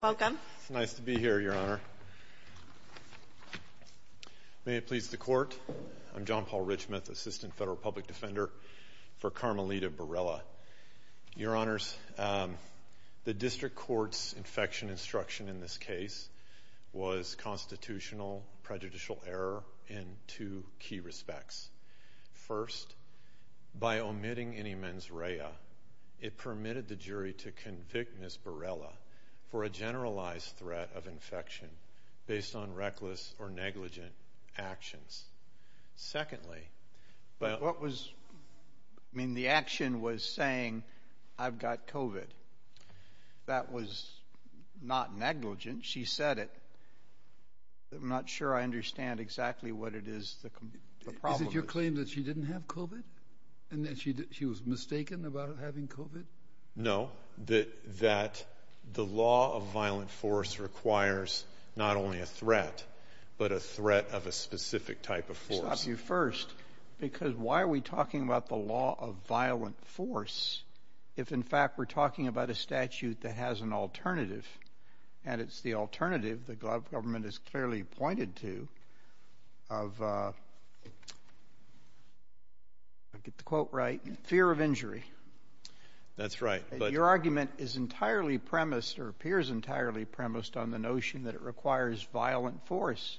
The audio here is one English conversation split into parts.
Welcome. It's nice to be here, Your Honor. May it please the Court, I'm John Paul Richmond, Assistant Federal Public Defender for Carmelita Barela. Your Honors, the District Court's infection instruction in this case was constitutional prejudicial error in two key respects. First, by omitting any mens rea, it permitted the jury to convict Ms. Barela for a generalized threat of infection based on reckless or negligent actions. Secondly, but what was, I mean, the action was saying I've got COVID. That was not negligent. She said it. I'm not sure I understand exactly what it is. Is it your claim that she didn't have COVID and that she was mistaken about having COVID? No, that the law of violent force requires not only a threat, but a threat of a specific type of force. I'll stop you first, because why are we talking about the law of violent force if, in fact, we're talking about a statute that has an alternative and it's the alternative the government has clearly pointed to of, I'll get the quote right, fear of injury. That's right. Your argument is entirely premised or appears entirely premised on the notion that it requires violent force,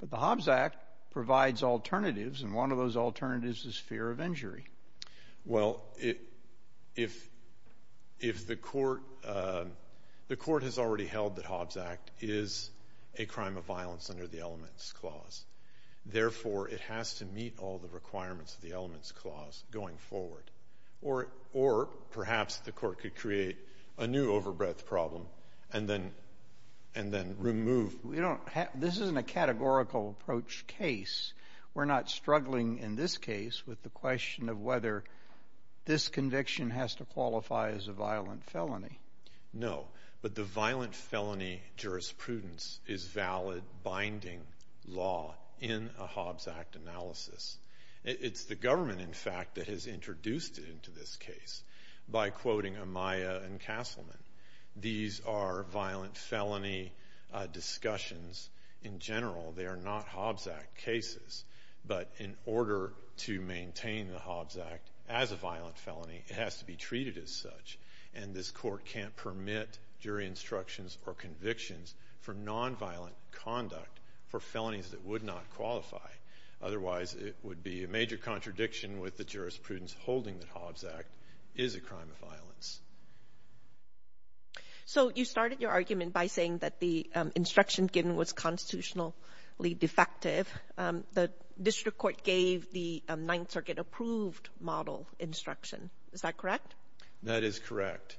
but the Hobbs Act provides alternatives and one of those alternatives is fear of injury. Well, if the court, the court has already held that Hobbs Act is a crime of violence under the elements clause. Therefore, it has to meet all the requirements of the elements clause going forward, or perhaps the court could create a new overbreadth problem and then remove. This isn't a categorical approach case. We're not struggling in this case with the question of whether this conviction has to qualify as a violent felony. No, but the violent felony jurisprudence is valid binding law in a Hobbs Act analysis. It's the government, in fact, that has introduced it into this case by quoting Amaya and Castleman. These are violent felony discussions in general. They are not Hobbs Act cases, but in order to maintain the Hobbs Act as a violent felony, it has to be treated as such, and this court can't permit jury instructions or convictions for nonviolent conduct for felonies that would not qualify. Otherwise, it would be a major contradiction with the jurisprudence holding that Hobbs Act is a crime of violence. So you started your argument by saying that the instruction given was constitutionally defective. The district court gave the Ninth Circuit-approved model instruction. Is that correct? That is correct.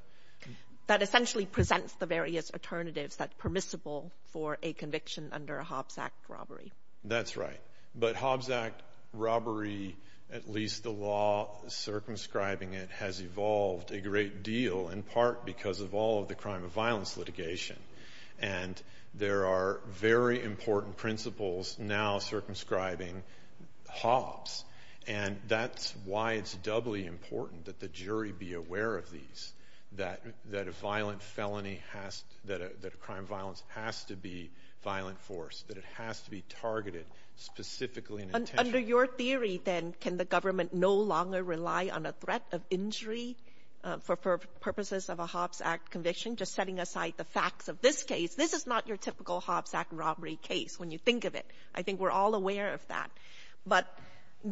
That essentially presents the various alternatives that are permissible for a conviction under a Hobbs Act robbery. That's right, but Hobbs Act robbery, at least the law circumscribing it, has evolved a great deal in part because of all of the crime of violence litigation, and there are very important principles now circumscribing Hobbs, and that's why it's doubly important that the jury be aware of these, that a crime of violence has to be violent force, that it has to be targeted specifically and intentionally. Under your theory, then, can the government no longer rely on a threat of injury for purposes of a Hobbs Act conviction, just setting aside the facts of this case? This is not your typical Hobbs Act robbery case, when you think of it. I think we're all aware of that. But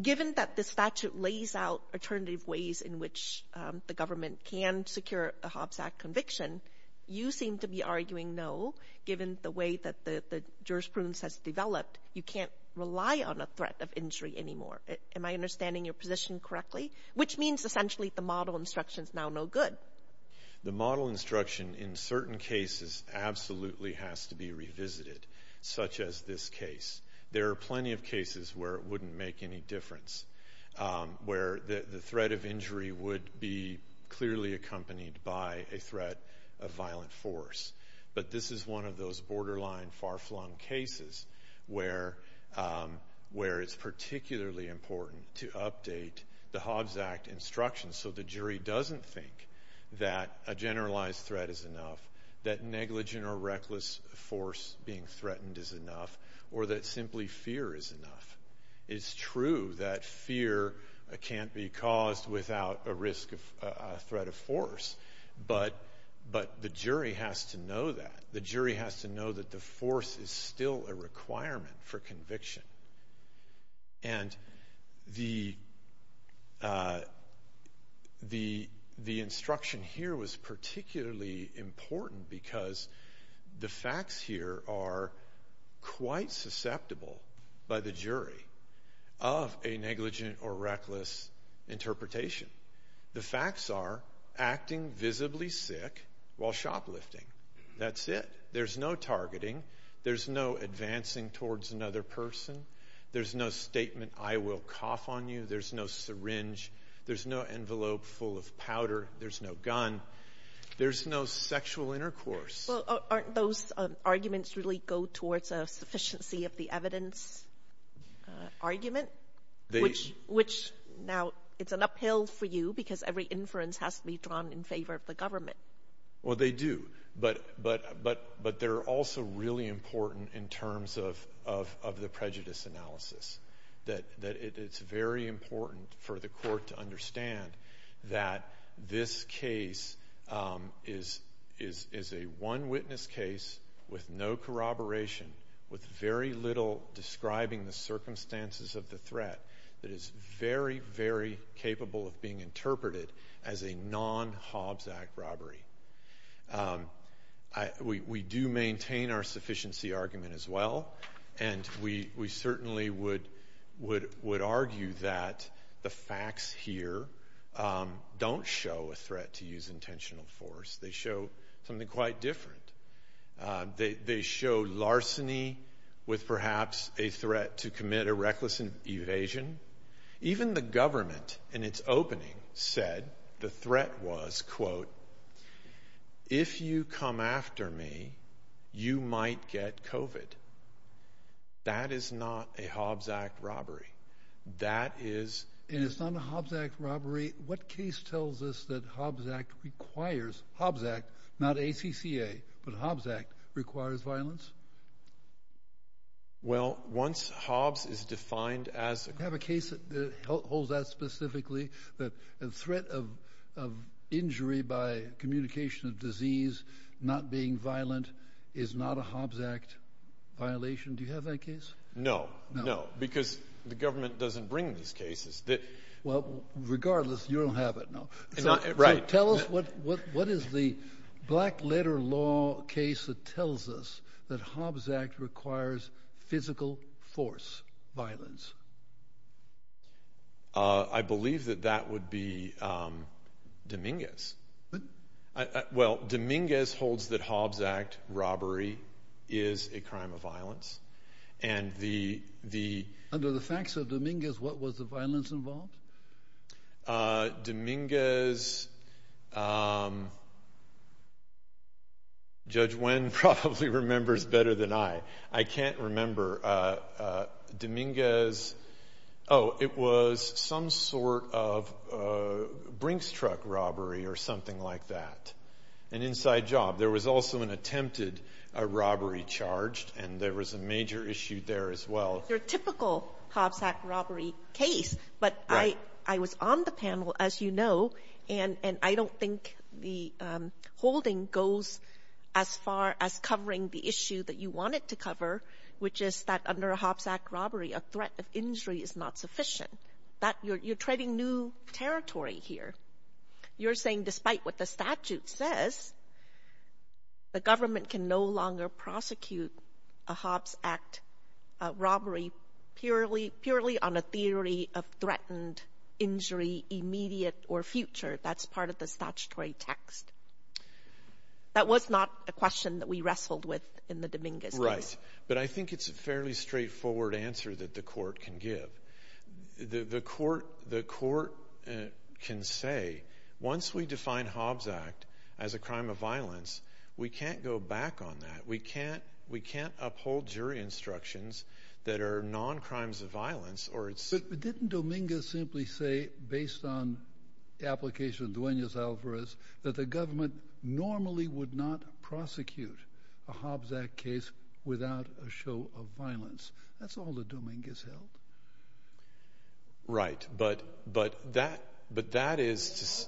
given that the statute lays out alternative ways in which the government can secure a Hobbs Act conviction, you seem to be arguing no, given the way that the jurisprudence has developed. You can't rely on a threat of injury anymore. Am I understanding your position correctly? Which means, essentially, the model instruction is now no good. The model instruction, in certain cases, absolutely has to be revisited, such as this case. There are plenty of cases where it wouldn't make any difference, where the threat of injury would be clearly accompanied by a threat of violent force. But this is one of those borderline, far-flung cases where it's particularly important to update the Hobbs Act instructions so the that a generalized threat is enough, that negligent or reckless force being threatened is enough, or that simply fear is enough. It's true that fear can't be caused without a risk of a threat of force, but the jury has to know that. The jury has to know that the force is still a requirement for conviction. And the instruction here was particularly important because the facts here are quite susceptible by the jury of a negligent or reckless interpretation. The facts are acting visibly sick while shoplifting. That's it. There's no targeting. There's no advancing towards another person. There's no statement, I will cough on you. There's no syringe. There's no envelope full of powder. There's no gun. There's no sexual intercourse. Well, aren't those arguments really go towards a sufficiency of the evidence argument? Which, now it's an uphill for you because every inference has to be drawn in favor of the government. Well, they do, but they're also really important in terms of the prejudice analysis. It's very important for the court to understand that this case is a one witness case with no corroboration, with very little describing the circumstances of the threat that is very, very capable of being interpreted as a non-Hobbs Act robbery. We do maintain our sufficiency argument as well and we certainly would argue that the facts here don't show a threat to use intentional force. They show something quite different. They show larceny with perhaps a threat to use intentional force. The threat was, quote, if you come after me, you might get COVID. That is not a Hobbs Act robbery. That is... And it's not a Hobbs Act robbery. What case tells us that Hobbs Act requires, Hobbs Act, not ACCA, but Hobbs Act requires violence? Well, once Hobbs is defined as... You have a case that holds that specifically, that the threat of injury by communication of disease, not being violent, is not a Hobbs Act violation. Do you have that case? No, no, because the government doesn't bring these cases. Well, regardless, you don't have it, no. So tell us what is the black letter law case that tells us that Hobbs Act requires physical force violence? I believe that that would be Dominguez. Well, Dominguez holds that Hobbs Act robbery is a crime of violence and the... Under the facts of Dominguez, what was the violence involved? Dominguez... Judge Wen probably remembers better than I. I can't remember. Dominguez... Oh, it was some sort of Brinks truck robbery or something like that. An inside job. There was also an attempted robbery charged and there was a major issue there as well. Your typical Hobbs Act robbery case, but I was on the panel, as you know, and I don't think the holding goes as far as covering the issue that you want it to cover, which is that under a Hobbs Act robbery, a threat of injury is not sufficient. You're treading new territory here. You're saying despite what the statute says, the government can no longer prosecute a Hobbs Act robbery purely on a theory of threatened injury, immediate or future. That's part of the statutory text. That was not a question that we wrestled with in the Dominguez case. Right. But I think it's a fairly straightforward answer that the court can give. The court can say, once we define Hobbs Act as a crime of violence, we can't go back on that. We can't uphold jury instructions that are non-crimes of violence. But didn't Dominguez simply say, based on the application of Duenas Alvarez, that the government normally would not prosecute a Hobbs Act case without a show of violence. That's all the Dominguez held. Right. But that is...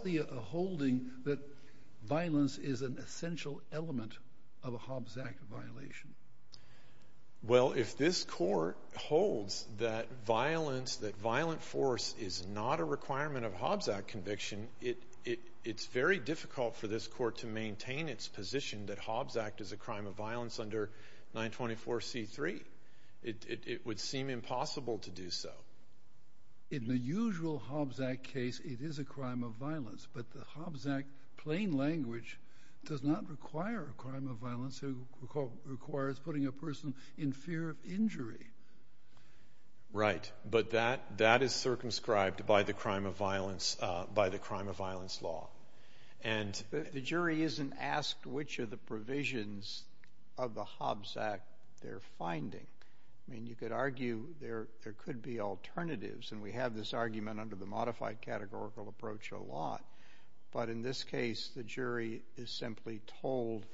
If this court holds that violence, that violent force is not a requirement of Hobbs Act conviction, it's very difficult for this court to maintain its position that Hobbs Act is a crime of violence under 924c3. It would seem impossible to do so. In the usual Hobbs Act case, it is a crime of violence. But the Hobbs Act plain language does not require a crime of violence. It requires putting a person in fear of injury. Right. But that is circumscribed by the crime of violence law. The jury isn't asked which of the provisions of the Hobbs Act they're finding. I mean, you could argue there could be alternatives, and we have this argument under the modified categorical approach a lot. But in this case, the jury is simply told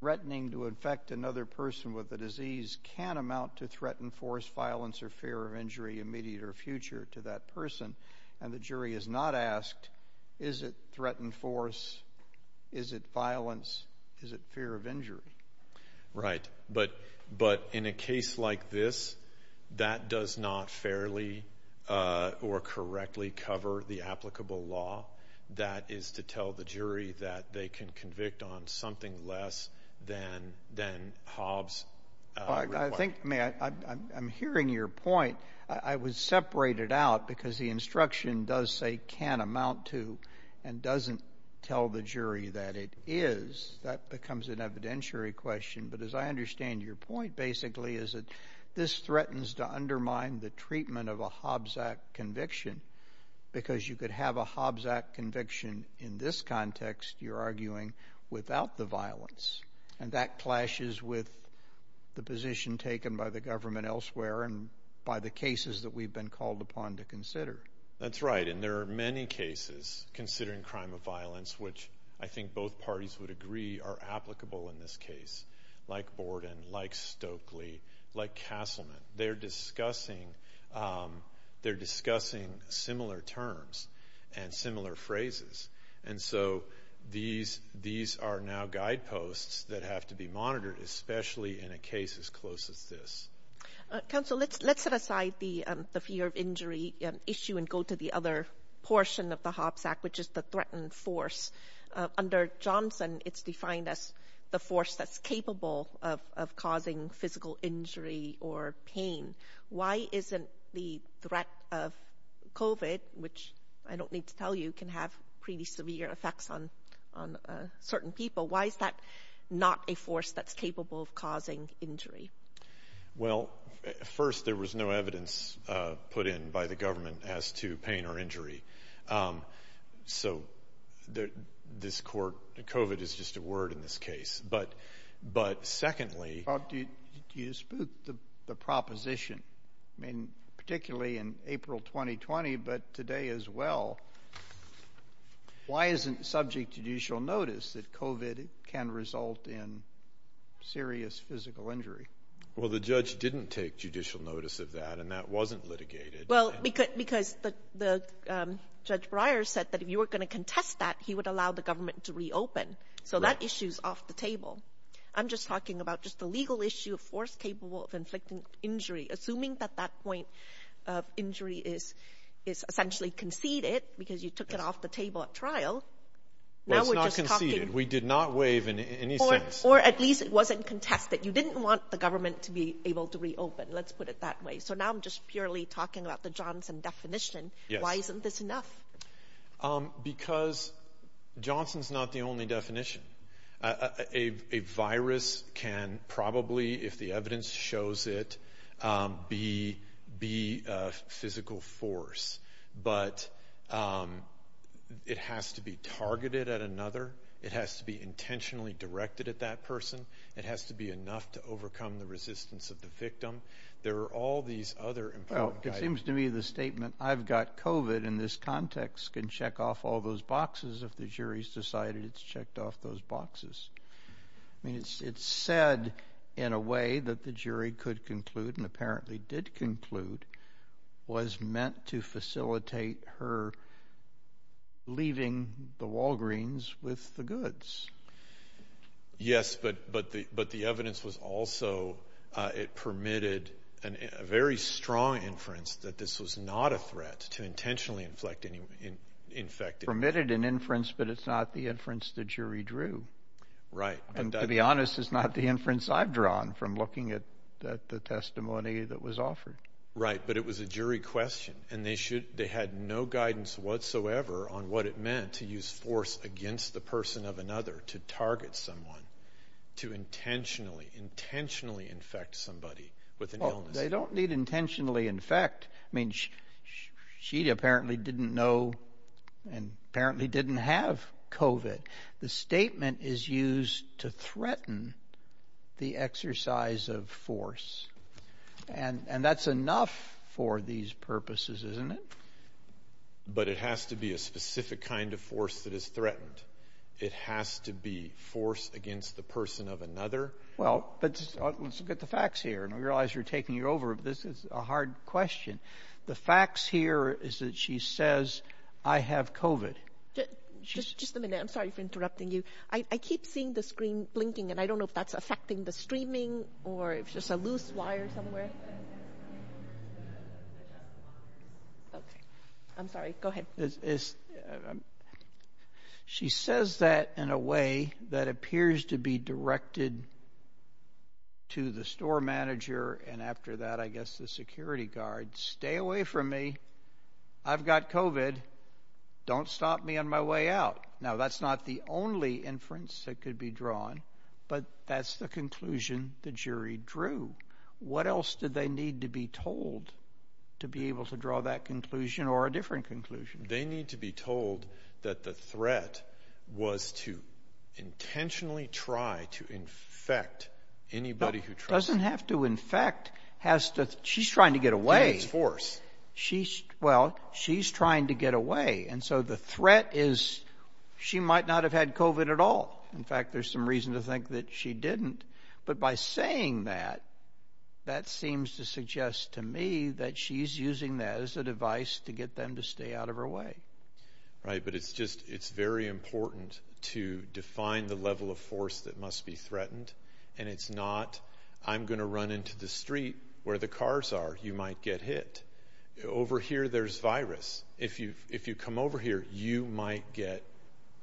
threatening to infect another person with the disease can amount to threatened force, violence, or fear of injury immediate or future to that person. And the jury is not asked, is it threatened force? Is it violence? Is it fear of correctly cover the applicable law? That is to tell the jury that they can convict on something less than Hobbs. I think, I'm hearing your point. I would separate it out because the instruction does say can amount to and doesn't tell the jury that it is. That becomes an evidentiary question. But as I understand your point, basically, is that this threatens to undermine the treatment of a Hobbs Act conviction because you could have a Hobbs Act conviction in this context, you're arguing, without the violence. And that clashes with the position taken by the government elsewhere and by the cases that we've been called upon to consider. That's right. And there are many cases considering crime of violence, which I think both parties would agree are applicable in this discussing similar terms and similar phrases. And so these are now guideposts that have to be monitored, especially in a case as close as this. Counsel, let's set aside the fear of injury issue and go to the other portion of the Hobbs Act, which is the threatened force. Under Johnson, it's defined as the force that's capable of causing physical injury or pain. Why isn't the threat of COVID, which I don't need to tell you, can have pretty severe effects on certain people? Why is that not a force that's capable of causing injury? Well, first, there was no evidence put in by the government as to pain or injury. So, this court, COVID is just a word in this case. But secondly... Do you dispute the proposition? I mean, particularly in April 2020, but today as well. Why isn't subject judicial notice that COVID can result in serious physical injury? Well, the judge didn't take judicial notice of that, and that wasn't litigated. Well, because Judge Breyer said that if you were going to contest that, he would allow the government to reopen. So that issue's off the table. I'm just talking about just the legal issue of force capable of inflicting injury, assuming that that point of injury is essentially conceded because you took it off the table at trial. Well, it's not conceded. We did not waive in any sense. Or at least it wasn't contested. You just purely talking about the Johnson definition. Why isn't this enough? Because Johnson's not the only definition. A virus can probably, if the evidence shows it, be a physical force. But it has to be targeted at another. It has to be intentionally directed at that person. It has to be enough to overcome the resistance of the victim. There are all these other... Well, it seems to me the statement, I've got COVID in this context, can check off all those boxes if the jury's decided it's checked off those boxes. I mean, it's said in a way that the jury could conclude, and apparently did conclude, was meant to facilitate her leaving the Walgreens with the goods. Yes, but the evidence was also, it permitted a very strong inference that this was not a threat to intentionally inflict any... Permitted an inference, but it's not the inference the jury drew. Right. And to be honest, it's not the inference I've drawn from looking at the testimony that was offered. Right. But it was a jury question, and they had no guidance whatsoever on what it meant to use force against the person of another to target someone, to intentionally, intentionally infect somebody with an illness. They don't need intentionally infect. I mean, she apparently didn't know and apparently didn't have COVID. The statement is used to threaten the exercise of force. And that's enough for these purposes, isn't it? But it has to be a specific kind of force that is threatened. It has to be force against the person of another. Well, but let's get the facts here. I realize you're taking it over, but this is a hard question. The facts here is that she says, I have COVID. Just a minute. I'm sorry for interrupting you. I keep seeing the screen blinking and I don't know if that's affecting the streaming or if it's just a loose wire somewhere. Okay. I'm sorry. Go ahead. She says that in a way that appears to be directed to the store manager. And after that, I guess the security guard, stay away from me. I've got COVID. Don't stop me on my way out. Now that's not the only inference that could be drawn, but that's the conclusion the jury drew. What else did they need to be told to be able to draw that conclusion or a different conclusion? They need to be told that the threat was to intentionally try to infect anybody who tries. Doesn't have to infect. She's trying to get away. Well, she's trying to get away. And so the threat is she might not have had COVID at all. In fact, there's some reason to think that she didn't. But by saying that, that seems to suggest to me that she's using that as a device to get them to stay out of her way. Right. But it's very important to define the level of force that must be threatened. And it's not, I'm going to run into the street where the cars are, you might get hit. Over here, there's virus. If you come over here, you might get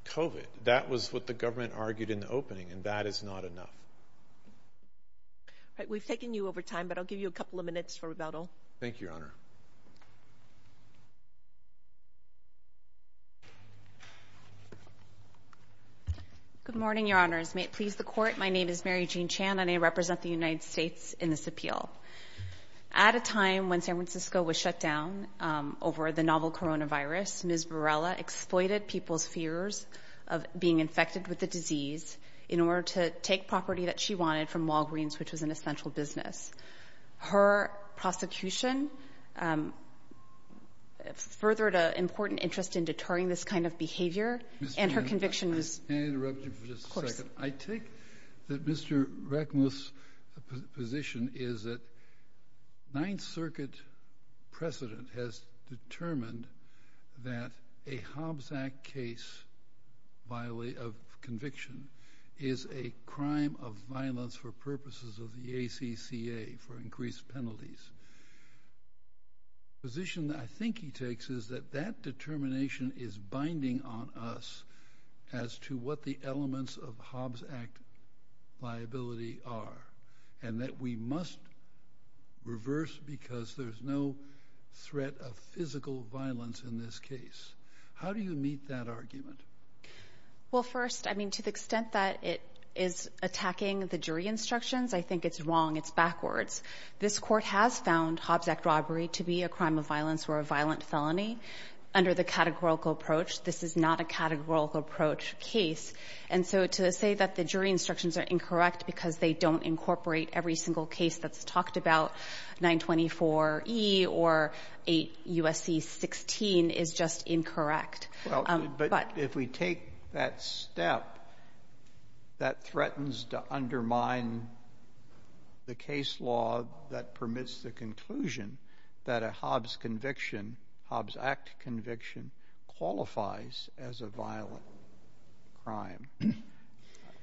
COVID. That was what the opening and that is not enough. Right. We've taken you over time, but I'll give you a couple of minutes for rebuttal. Thank you, Your Honor. Good morning, Your Honors. May it please the court. My name is Mary Jean Chan and I represent the United States in this appeal. At a time when San Francisco was shut down over the novel coronavirus, Ms. Varela exploited people's fears of being infected with the disease in order to take property that she wanted from Walgreens, which was an essential business. Her prosecution furthered an important interest in deterring this kind of behavior. And her conviction was... May I interrupt you for just a second? Of course. I take that Mr. Reckmuth's position is that Ninth Circuit precedent has determined that a Hobbs Act case of conviction is a crime of violence for purposes of the ACCA for increased penalties. The position that I think he takes is that that determination is binding on us as to what the liability are and that we must reverse because there's no threat of physical violence in this case. How do you meet that argument? Well, first, I mean, to the extent that it is attacking the jury instructions, I think it's wrong. It's backwards. This court has found Hobbs Act robbery to be a crime of violence or a violent felony under the categorical approach. This is not a categorical approach case. And so to say that the jury instructions are incorrect because they don't incorporate every single case that's talked about, 924E or 8 U.S.C. 16, is just incorrect. But if we take that step, that threatens to undermine the case law that permits the as a violent crime.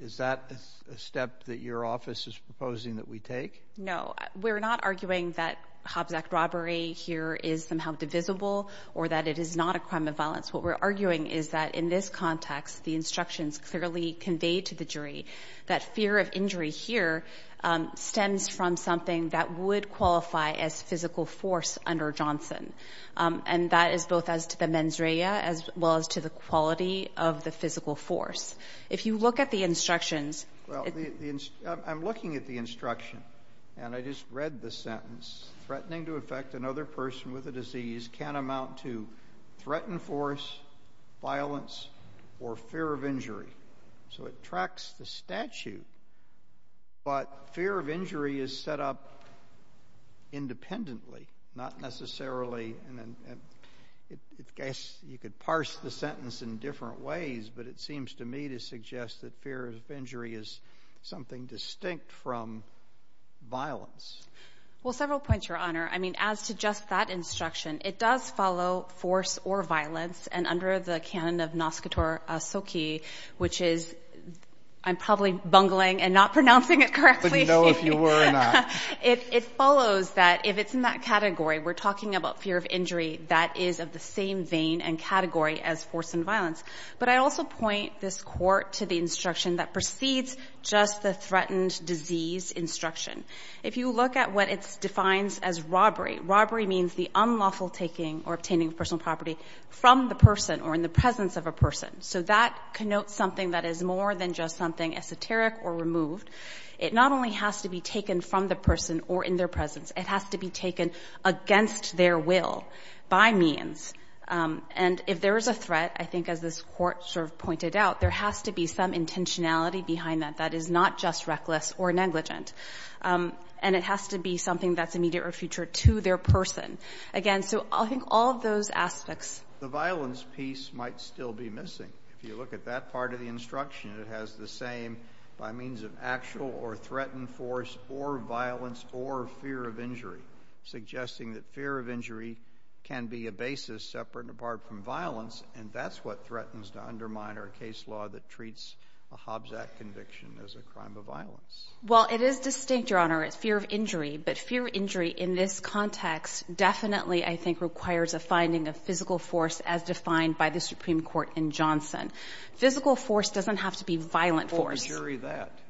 Is that a step that your office is proposing that we take? No, we're not arguing that Hobbs Act robbery here is somehow divisible or that it is not a crime of violence. What we're arguing is that in this context, the instructions clearly conveyed to the jury that fear of injury here stems from something that would qualify as physical force under Johnson. And that is both as to the mens rea as well as to the quality of the physical force. If you look at the instructions. Well, I'm looking at the instruction and I just read the sentence threatening to affect another person with a disease can amount to threatened force, violence or fear of injury. So it tracks the statute. But fear of injury is set up independently, not necessarily. And I guess you could parse the sentence in different ways, but it seems to me to suggest that fear of injury is something distinct from violence. Well, several points, Your Honor. I mean, as to just that instruction, it does follow force or violence. And under the canon of Noskator Soki, which is I'm probably bungling and not pronouncing it correctly, it follows that if it's in that category, we're talking about fear of injury that is of the same vein and category as force and violence. But I also point this Court to the instruction that precedes just the threatened disease instruction. If you look at what it defines as robbery, robbery means the unlawful taking or obtaining of personal property from the person or in the presence of a person. So that connotes something that is more than just something esoteric or removed. It not only has to be taken from the person or in their presence, it has to be taken against their will by means. And if there is a threat, I think as this Court sort of pointed out, there has to be some intentionality behind that that is not just reckless or negligent. And it has to be something that's immediate or future to their person. Again, so I think all of those aspects. JUSTICE BREYER. The violence piece might still be missing. If you look at that part of the instruction, it has the same by means of actual or threatened force or violence or fear of injury, suggesting that fear of injury can be a basis separate and apart from violence. And that's what threatens to undermine our case law that treats a Hobbs Act conviction as a crime of MS. COTT. Well, it is distinct, Your Honor, it's fear of injury. But fear of injury in this context definitely, I think, requires a finding of physical force as defined by the Supreme Court in Johnson. Physical force doesn't have to be violent force. JUSTICE BREYER. Or jury that. MS. COTT.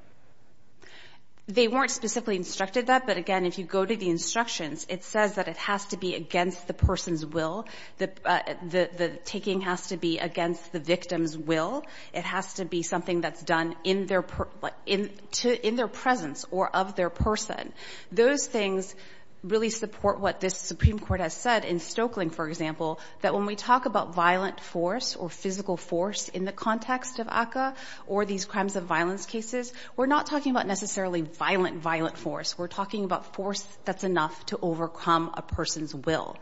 They weren't specifically instructed that. But again, if you go to the instructions, it says that it has to be against the person's will. The taking has to be against the victim's will. It has to be something that's done in their presence or of their person. Those things really support what the Supreme Court has said in Stokelyn, for example, that when we talk about violent force or physical force in the context of ACCA or these crimes of violence cases, we're not talking about necessarily violent, violent force. We're talking about force that's enough to overcome a person's will.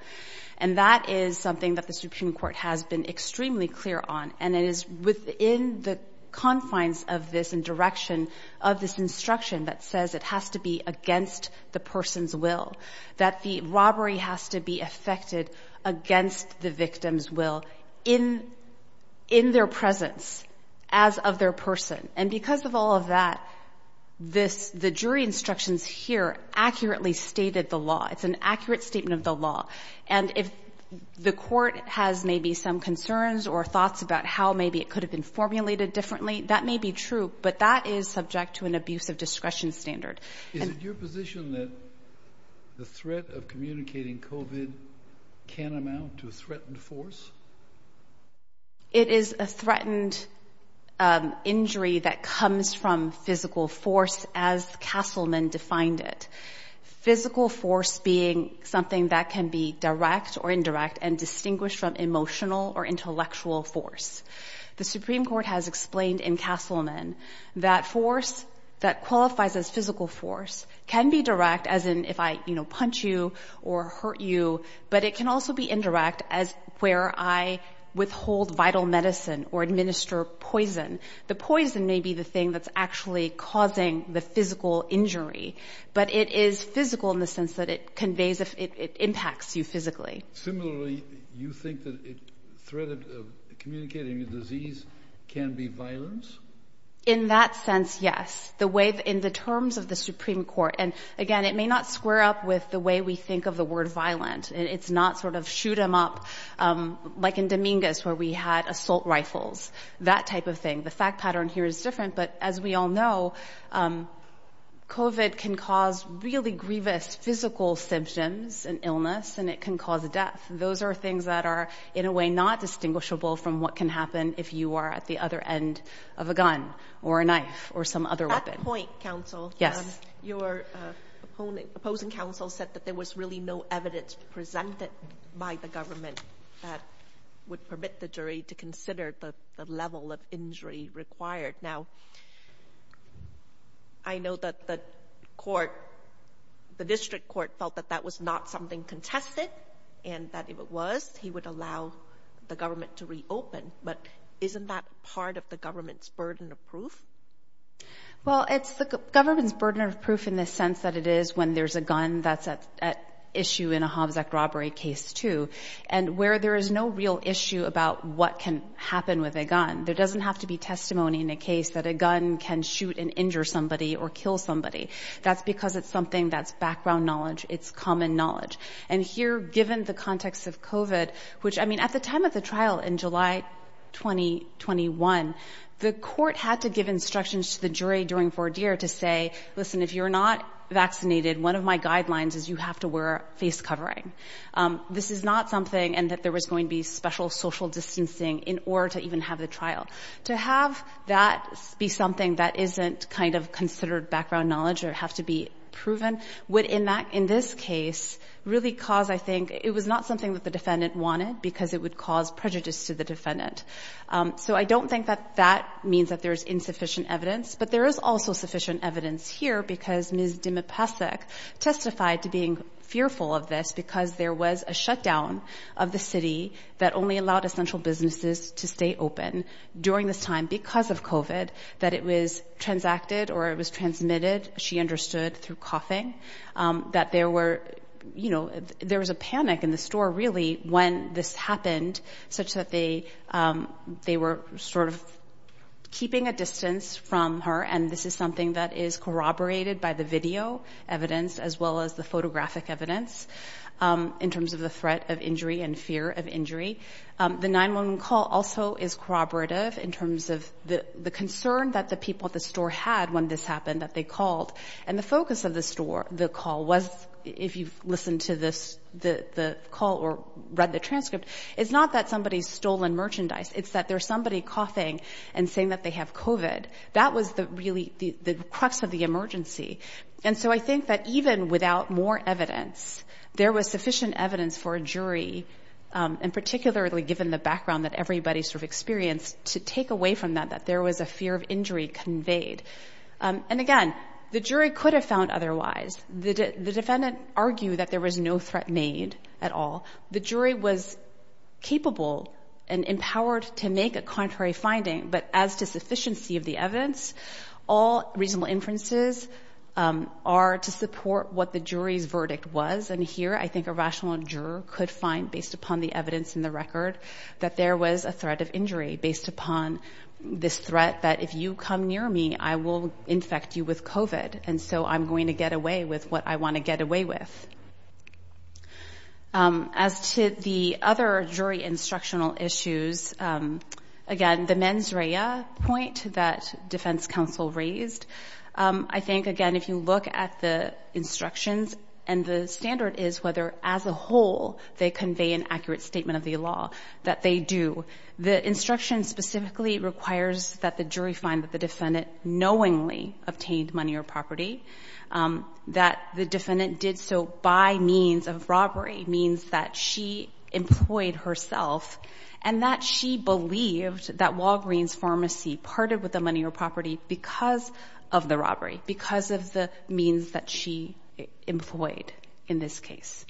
And that is something that the Supreme Court has been extremely clear on. And it is within the confines of this and direction of this instruction that says it has to be against the person's will, that the robbery has to be effected against the victim's will in their presence, as of their person. And because of all of that, this, the jury instructions here accurately stated the law. It's an accurate statement of the law. And if the Court has maybe some concerns or thoughts about how maybe it could have been formulated differently, that may be true, but that is subject to an abuse of discretion standard. Is it your position that the threat of communicating COVID can amount to a threatened force? It is a threatened injury that comes from physical force as Castleman defined it. Physical force being something that can be direct or indirect and distinguish from emotional or physical injury. The Supreme Court has explained in Castleman that force that qualifies as physical force can be direct as in if I, you know, punch you or hurt you, but it can also be indirect as where I withhold vital medicine or administer poison. The poison may be the thing that's actually causing the physical injury, but it is physical in the sense that it conveys, it impacts you physically. Similarly, you think that it communicating a disease can be violence? In that sense? Yes. The way in the terms of the Supreme Court, and again, it may not square up with the way we think of the word violent, and it's not sort of shoot them up. Like in Dominguez, where we had assault rifles, that type of thing. The fact pattern here is different, but as we all know, COVID can cause really grievous physical symptoms and illness, and it can cause a death. Those are things that are in a way not distinguishable from what can happen if you are at the other end of a gun or a knife or some other weapon. At that point, counsel, your opposing counsel said that there was really no evidence presented by the government that would permit the jury to consider the level of injury required. Now, I know that the court, the district court felt that that was not something contested, and that if it was, he would allow the government to reopen, but isn't that part of the government's burden of proof? Well, it's the government's burden of proof in the sense that it is when there's a gun that's at issue in a Hobbs Act robbery case too, and where there is no real issue about what can happen with a gun. There doesn't have to be testimony in a case that a gun can shoot and injure somebody or kill somebody. That's because it's something that's background knowledge. It's common knowledge. And here, given the context of COVID, which, I mean, at the time of the trial in July 2021, the court had to give instructions to the jury during voir dire to say, listen, if you're not vaccinated, one of my guidelines is you have to wear face covering. This is not something, and that there was going to be special social distancing in order to even have the trial. To have that be something that isn't kind of considered background knowledge or have to be proven would, in this case, really cause, I think, it was not something that the defendant wanted because it would cause prejudice to the defendant. So I don't think that that means that there's insufficient evidence, but there is also sufficient evidence here because Ms. Dimipasek testified to being fearful of this because there was a shutdown of the city that only allowed essential businesses to stay open during this time because of COVID, that it was transacted or it was transmitted, she understood, through coughing, that there was a panic in the store, really, when this happened, such that they were sort of keeping a distance from her. And this is something that is corroborated by the video evidence as well as the photographic evidence in terms of the threat of injury and fear of injury. The 911 call also is corroborative in terms of the concern that the people at the store had when this happened, that they called. And the focus of the store, the call was, if you've listened to the call or read the transcript, it's not that somebody's stolen merchandise, it's that there's somebody coughing and saying that they have COVID. That was really the crux of the emergency. And so I think that even without more evidence, there was sufficient evidence for a jury, and particularly given the background that everybody sort of experienced, to take away from that, that there was a fear of injury conveyed. And again, the jury could have found otherwise. The defendant argued that there was no threat made at all. The jury was capable and empowered to make a contrary finding, but as to sufficiency of the evidence, all reasonable inferences are to support what the jury's verdict was. And here, I think a threat of injury based upon this threat that if you come near me, I will infect you with COVID, and so I'm going to get away with what I want to get away with. As to the other jury instructional issues, again, the mens rea point that defense counsel raised, I think, again, if you look at the instructions and the standard is whether as a whole, they The instruction specifically requires that the jury find that the defendant knowingly obtained money or property, that the defendant did so by means of robbery, means that she employed herself, and that she believed that Walgreen's Pharmacy parted with the money or property because of the robbery, because of the means that she employed in this case.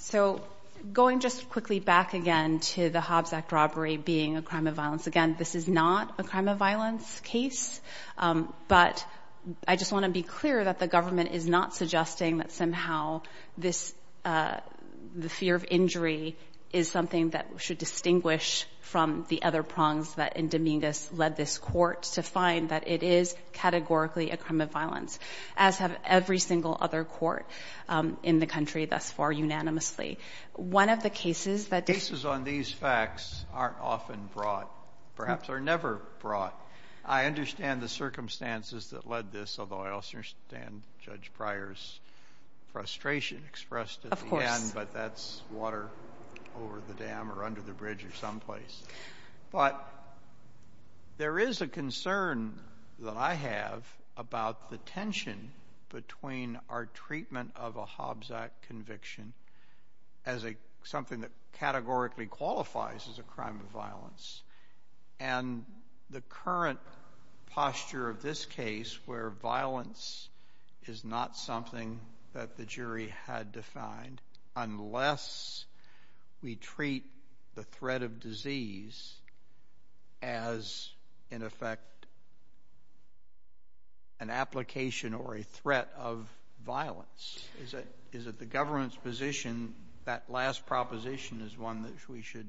So going just quickly back again to the Hobbs Act robbery being a crime of violence, again, this is not a crime of violence case, but I just want to be clear that the government is not suggesting that somehow this, the fear of injury is something that should distinguish from the other prongs that in Dominguez led this court to find that it is categorically a crime of violence, as have every single other court in the country thus far unanimously. One of the cases that The cases on these facts aren't often brought, perhaps are never brought. I understand the circumstances that led this, although I also understand Judge Pryor's frustration expressed at the end, but that's water over the dam or under the bridge or someplace. But there is a concern that I have about the tension between our treatment of a Hobbs Act conviction as something that categorically qualifies as a crime of violence, and the current posture of this case where violence is not something that the jury had defined, unless we treat the threat of disease as, in effect, an application or a threat of violence. Is it the government's position that last proposition is one that we should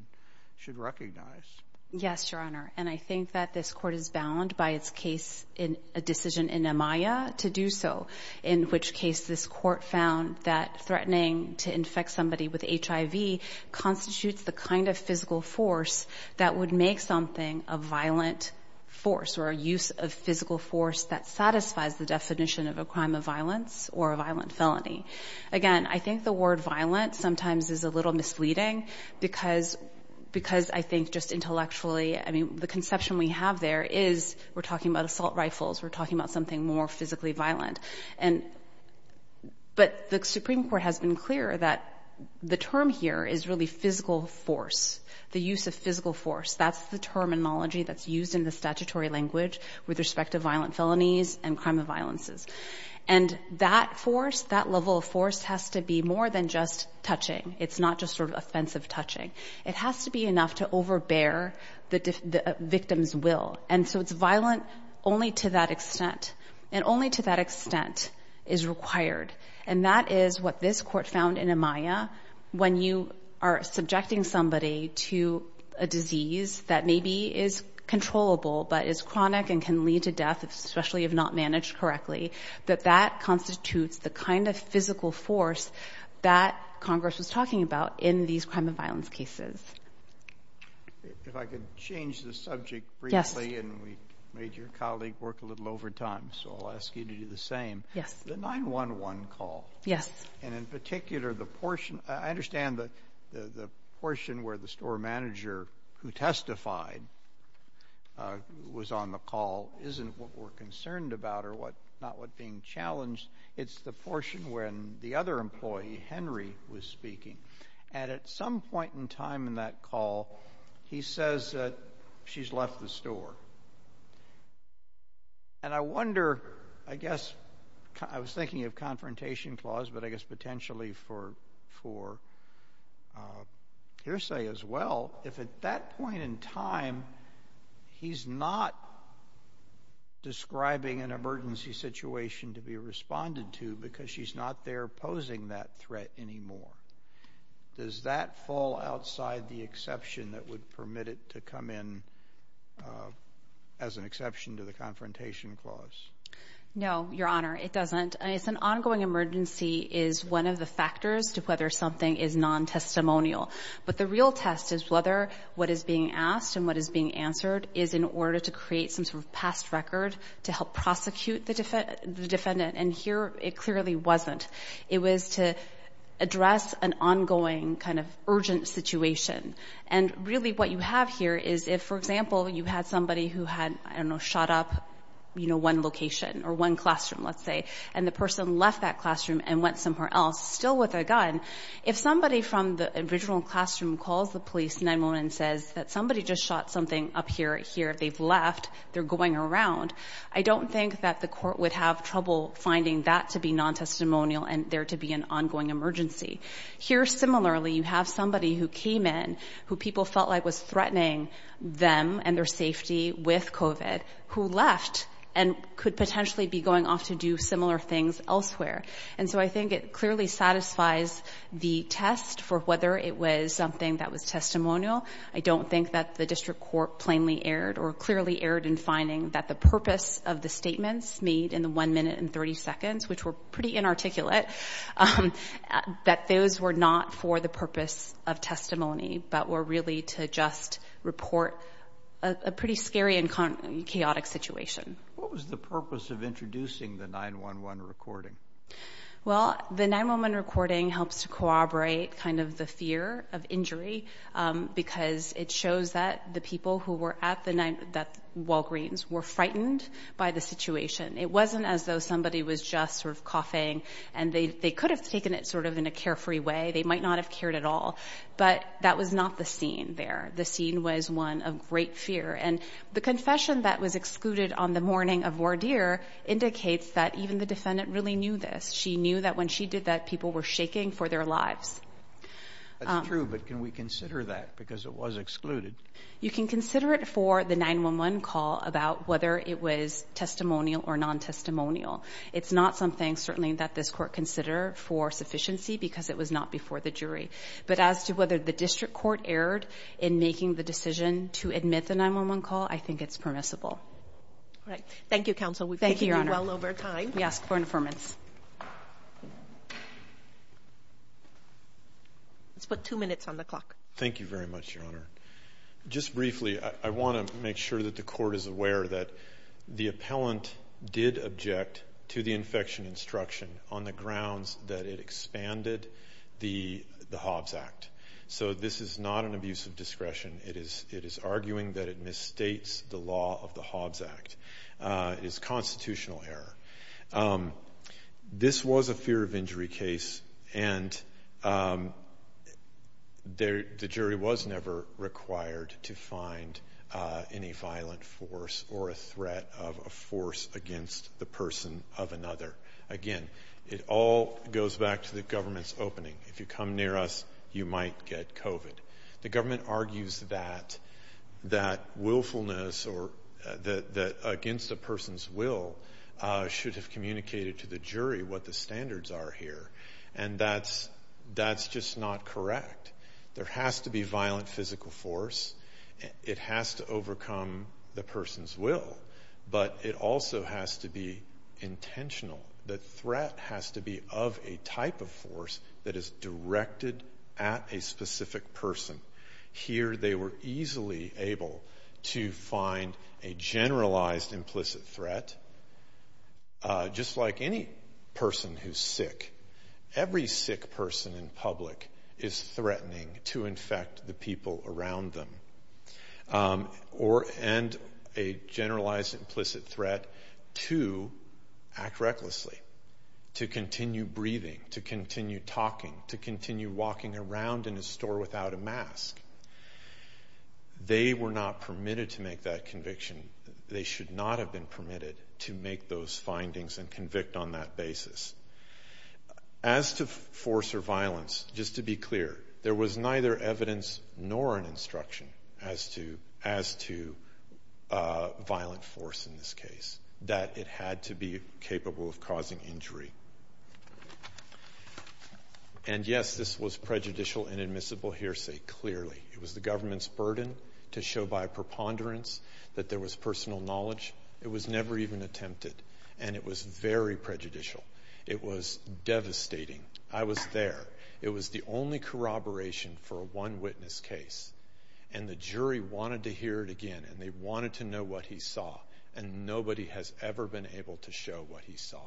recognize? Yes, Your Honor, and I think that this court is bound by its case in a decision in Amaya to do so, in which case this court found that threatening to infect somebody with HIV constitutes the kind of physical force that would make something a violent force or a use of physical force that satisfies the definition of a crime of violence or a violent felony. Again, I think the word violent sometimes is a little misleading because I think just intellectually, I mean, the conception we have there is we're talking about assault rifles, we're talking about something more physically violent. But the Supreme Court has been clear that the term here is really physical force, the use of physical force. That's the terminology that's used in the statutory language with respect to violent felonies and crime of violences. And that force, that level of force, has to be more than just touching. It's not just sort of offensive touching. It has to be enough to overbear the victim's will. And so it's violent only to that extent, and only to that extent is required. And that is what this court found in Amaya. When you are subjecting somebody to a disease that maybe is controllable but is chronic and can lead to death, especially if not managed correctly, that that constitutes the kind of physical force that Congress was talking about in these crime of violence cases. If I could change the subject briefly, and we made your colleague work a little over time, so I'll ask you to do the same. Yes. The 911 call. Yes. And in particular, the portion, I understand that the portion where the store manager who testified was on the call isn't what we're concerned about or what, not what being challenged. It's the portion when the other time in that call, he says that she's left the store. And I wonder, I guess, I was thinking of confrontation clause, but I guess potentially for hearsay as well, if at that point in time, he's not describing an emergency situation to be responded to because she's not there posing that threat anymore, does that fall outside the exception that would permit it to come in as an exception to the confrontation clause? No, Your Honor, it doesn't. It's an ongoing emergency is one of the factors to whether something is non-testimonial. But the real test is whether what is being asked and what is being answered is in order to create some sort to help prosecute the defendant. And here, it clearly wasn't. It was to address an ongoing kind of urgent situation. And really, what you have here is if, for example, you had somebody who had, I don't know, shot up, you know, one location or one classroom, let's say, and the person left that classroom and went somewhere else still with a gun. If somebody from the original classroom calls the police 911 and says that somebody just shot something up here, if they've left, they're going around. I don't think that the court would have trouble finding that to be non-testimonial and there to be an ongoing emergency. Here, similarly, you have somebody who came in who people felt like was threatening them and their safety with COVID who left and could potentially be going off to do similar things elsewhere. And so I think it clearly satisfies the test for whether it was something that was clearly aired in finding that the purpose of the statements made in the 1 minute and 30 seconds, which were pretty inarticulate, that those were not for the purpose of testimony but were really to just report a pretty scary and chaotic situation. What was the purpose of introducing the 911 recording? Well, the 911 recording helps to corroborate kind of the fear of injury because it shows that the people who were at the Walgreens were frightened by the situation. It wasn't as though somebody was just sort of coughing and they could have taken it sort of in a carefree way. They might not have cared at all. But that was not the scene there. The scene was one of great fear. And the confession that was excluded on the morning of Wardere indicates that even the defendant really knew this. She knew that when she did that, people were shaking for their lives. That's true, but can we consider that because it was excluded? You can consider it for the 911 call about whether it was testimonial or non-testimonial. It's not something certainly that this court considered for sufficiency because it was not before the jury. But as to whether the district court erred in making the decision to admit the 911 call, I think it's permissible. All right. Thank you, Counsel. We've taken you well over time. We ask for information. Let's put two minutes on the clock. Thank you very much, Your Honor. Just briefly, I want to make sure that the court is aware that the appellant did object to the infection instruction on the grounds that it expanded the Hobbs Act. So this is not an abuse of discretion. It is arguing that it misstates the law of the Hobbs Act. It is constitutional error. This was a fear of injury case, and the jury was never required to find any violent force or a threat of a force against the person of another. Again, it all goes back to the government's The government argues that willfulness against a person's will should have communicated to the jury what the standards are here, and that's just not correct. There has to be violent physical force. It has to overcome the person's will, but it also has to be intentional. The threat has to be of a person. Here, they were easily able to find a generalized implicit threat. Just like any person who's sick, every sick person in public is threatening to infect the people around them, and a generalized implicit threat to act recklessly, to continue breathing, to continue talking, to continue walking around in a store without a mask. They were not permitted to make that conviction. They should not have been permitted to make those findings and convict on that basis. As to force or violence, just to be clear, there was neither evidence nor an instruction as to violent force in this case, that it had to be capable of causing injury. And yes, this was prejudicial and admissible hearsay, clearly. It was the government's burden to show by preponderance that there was personal knowledge. It was never even attempted, and it was very prejudicial. It was devastating. I was there. It was the only corroboration for a one-witness case, and the jury wanted to hear it again, and they wanted to know what he saw, and nobody has ever been able to show what he saw.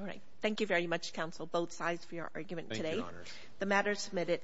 All right. Thank you very much, counsel, both sides for your argument today. Thank you, Your Honor. The matter is submitted.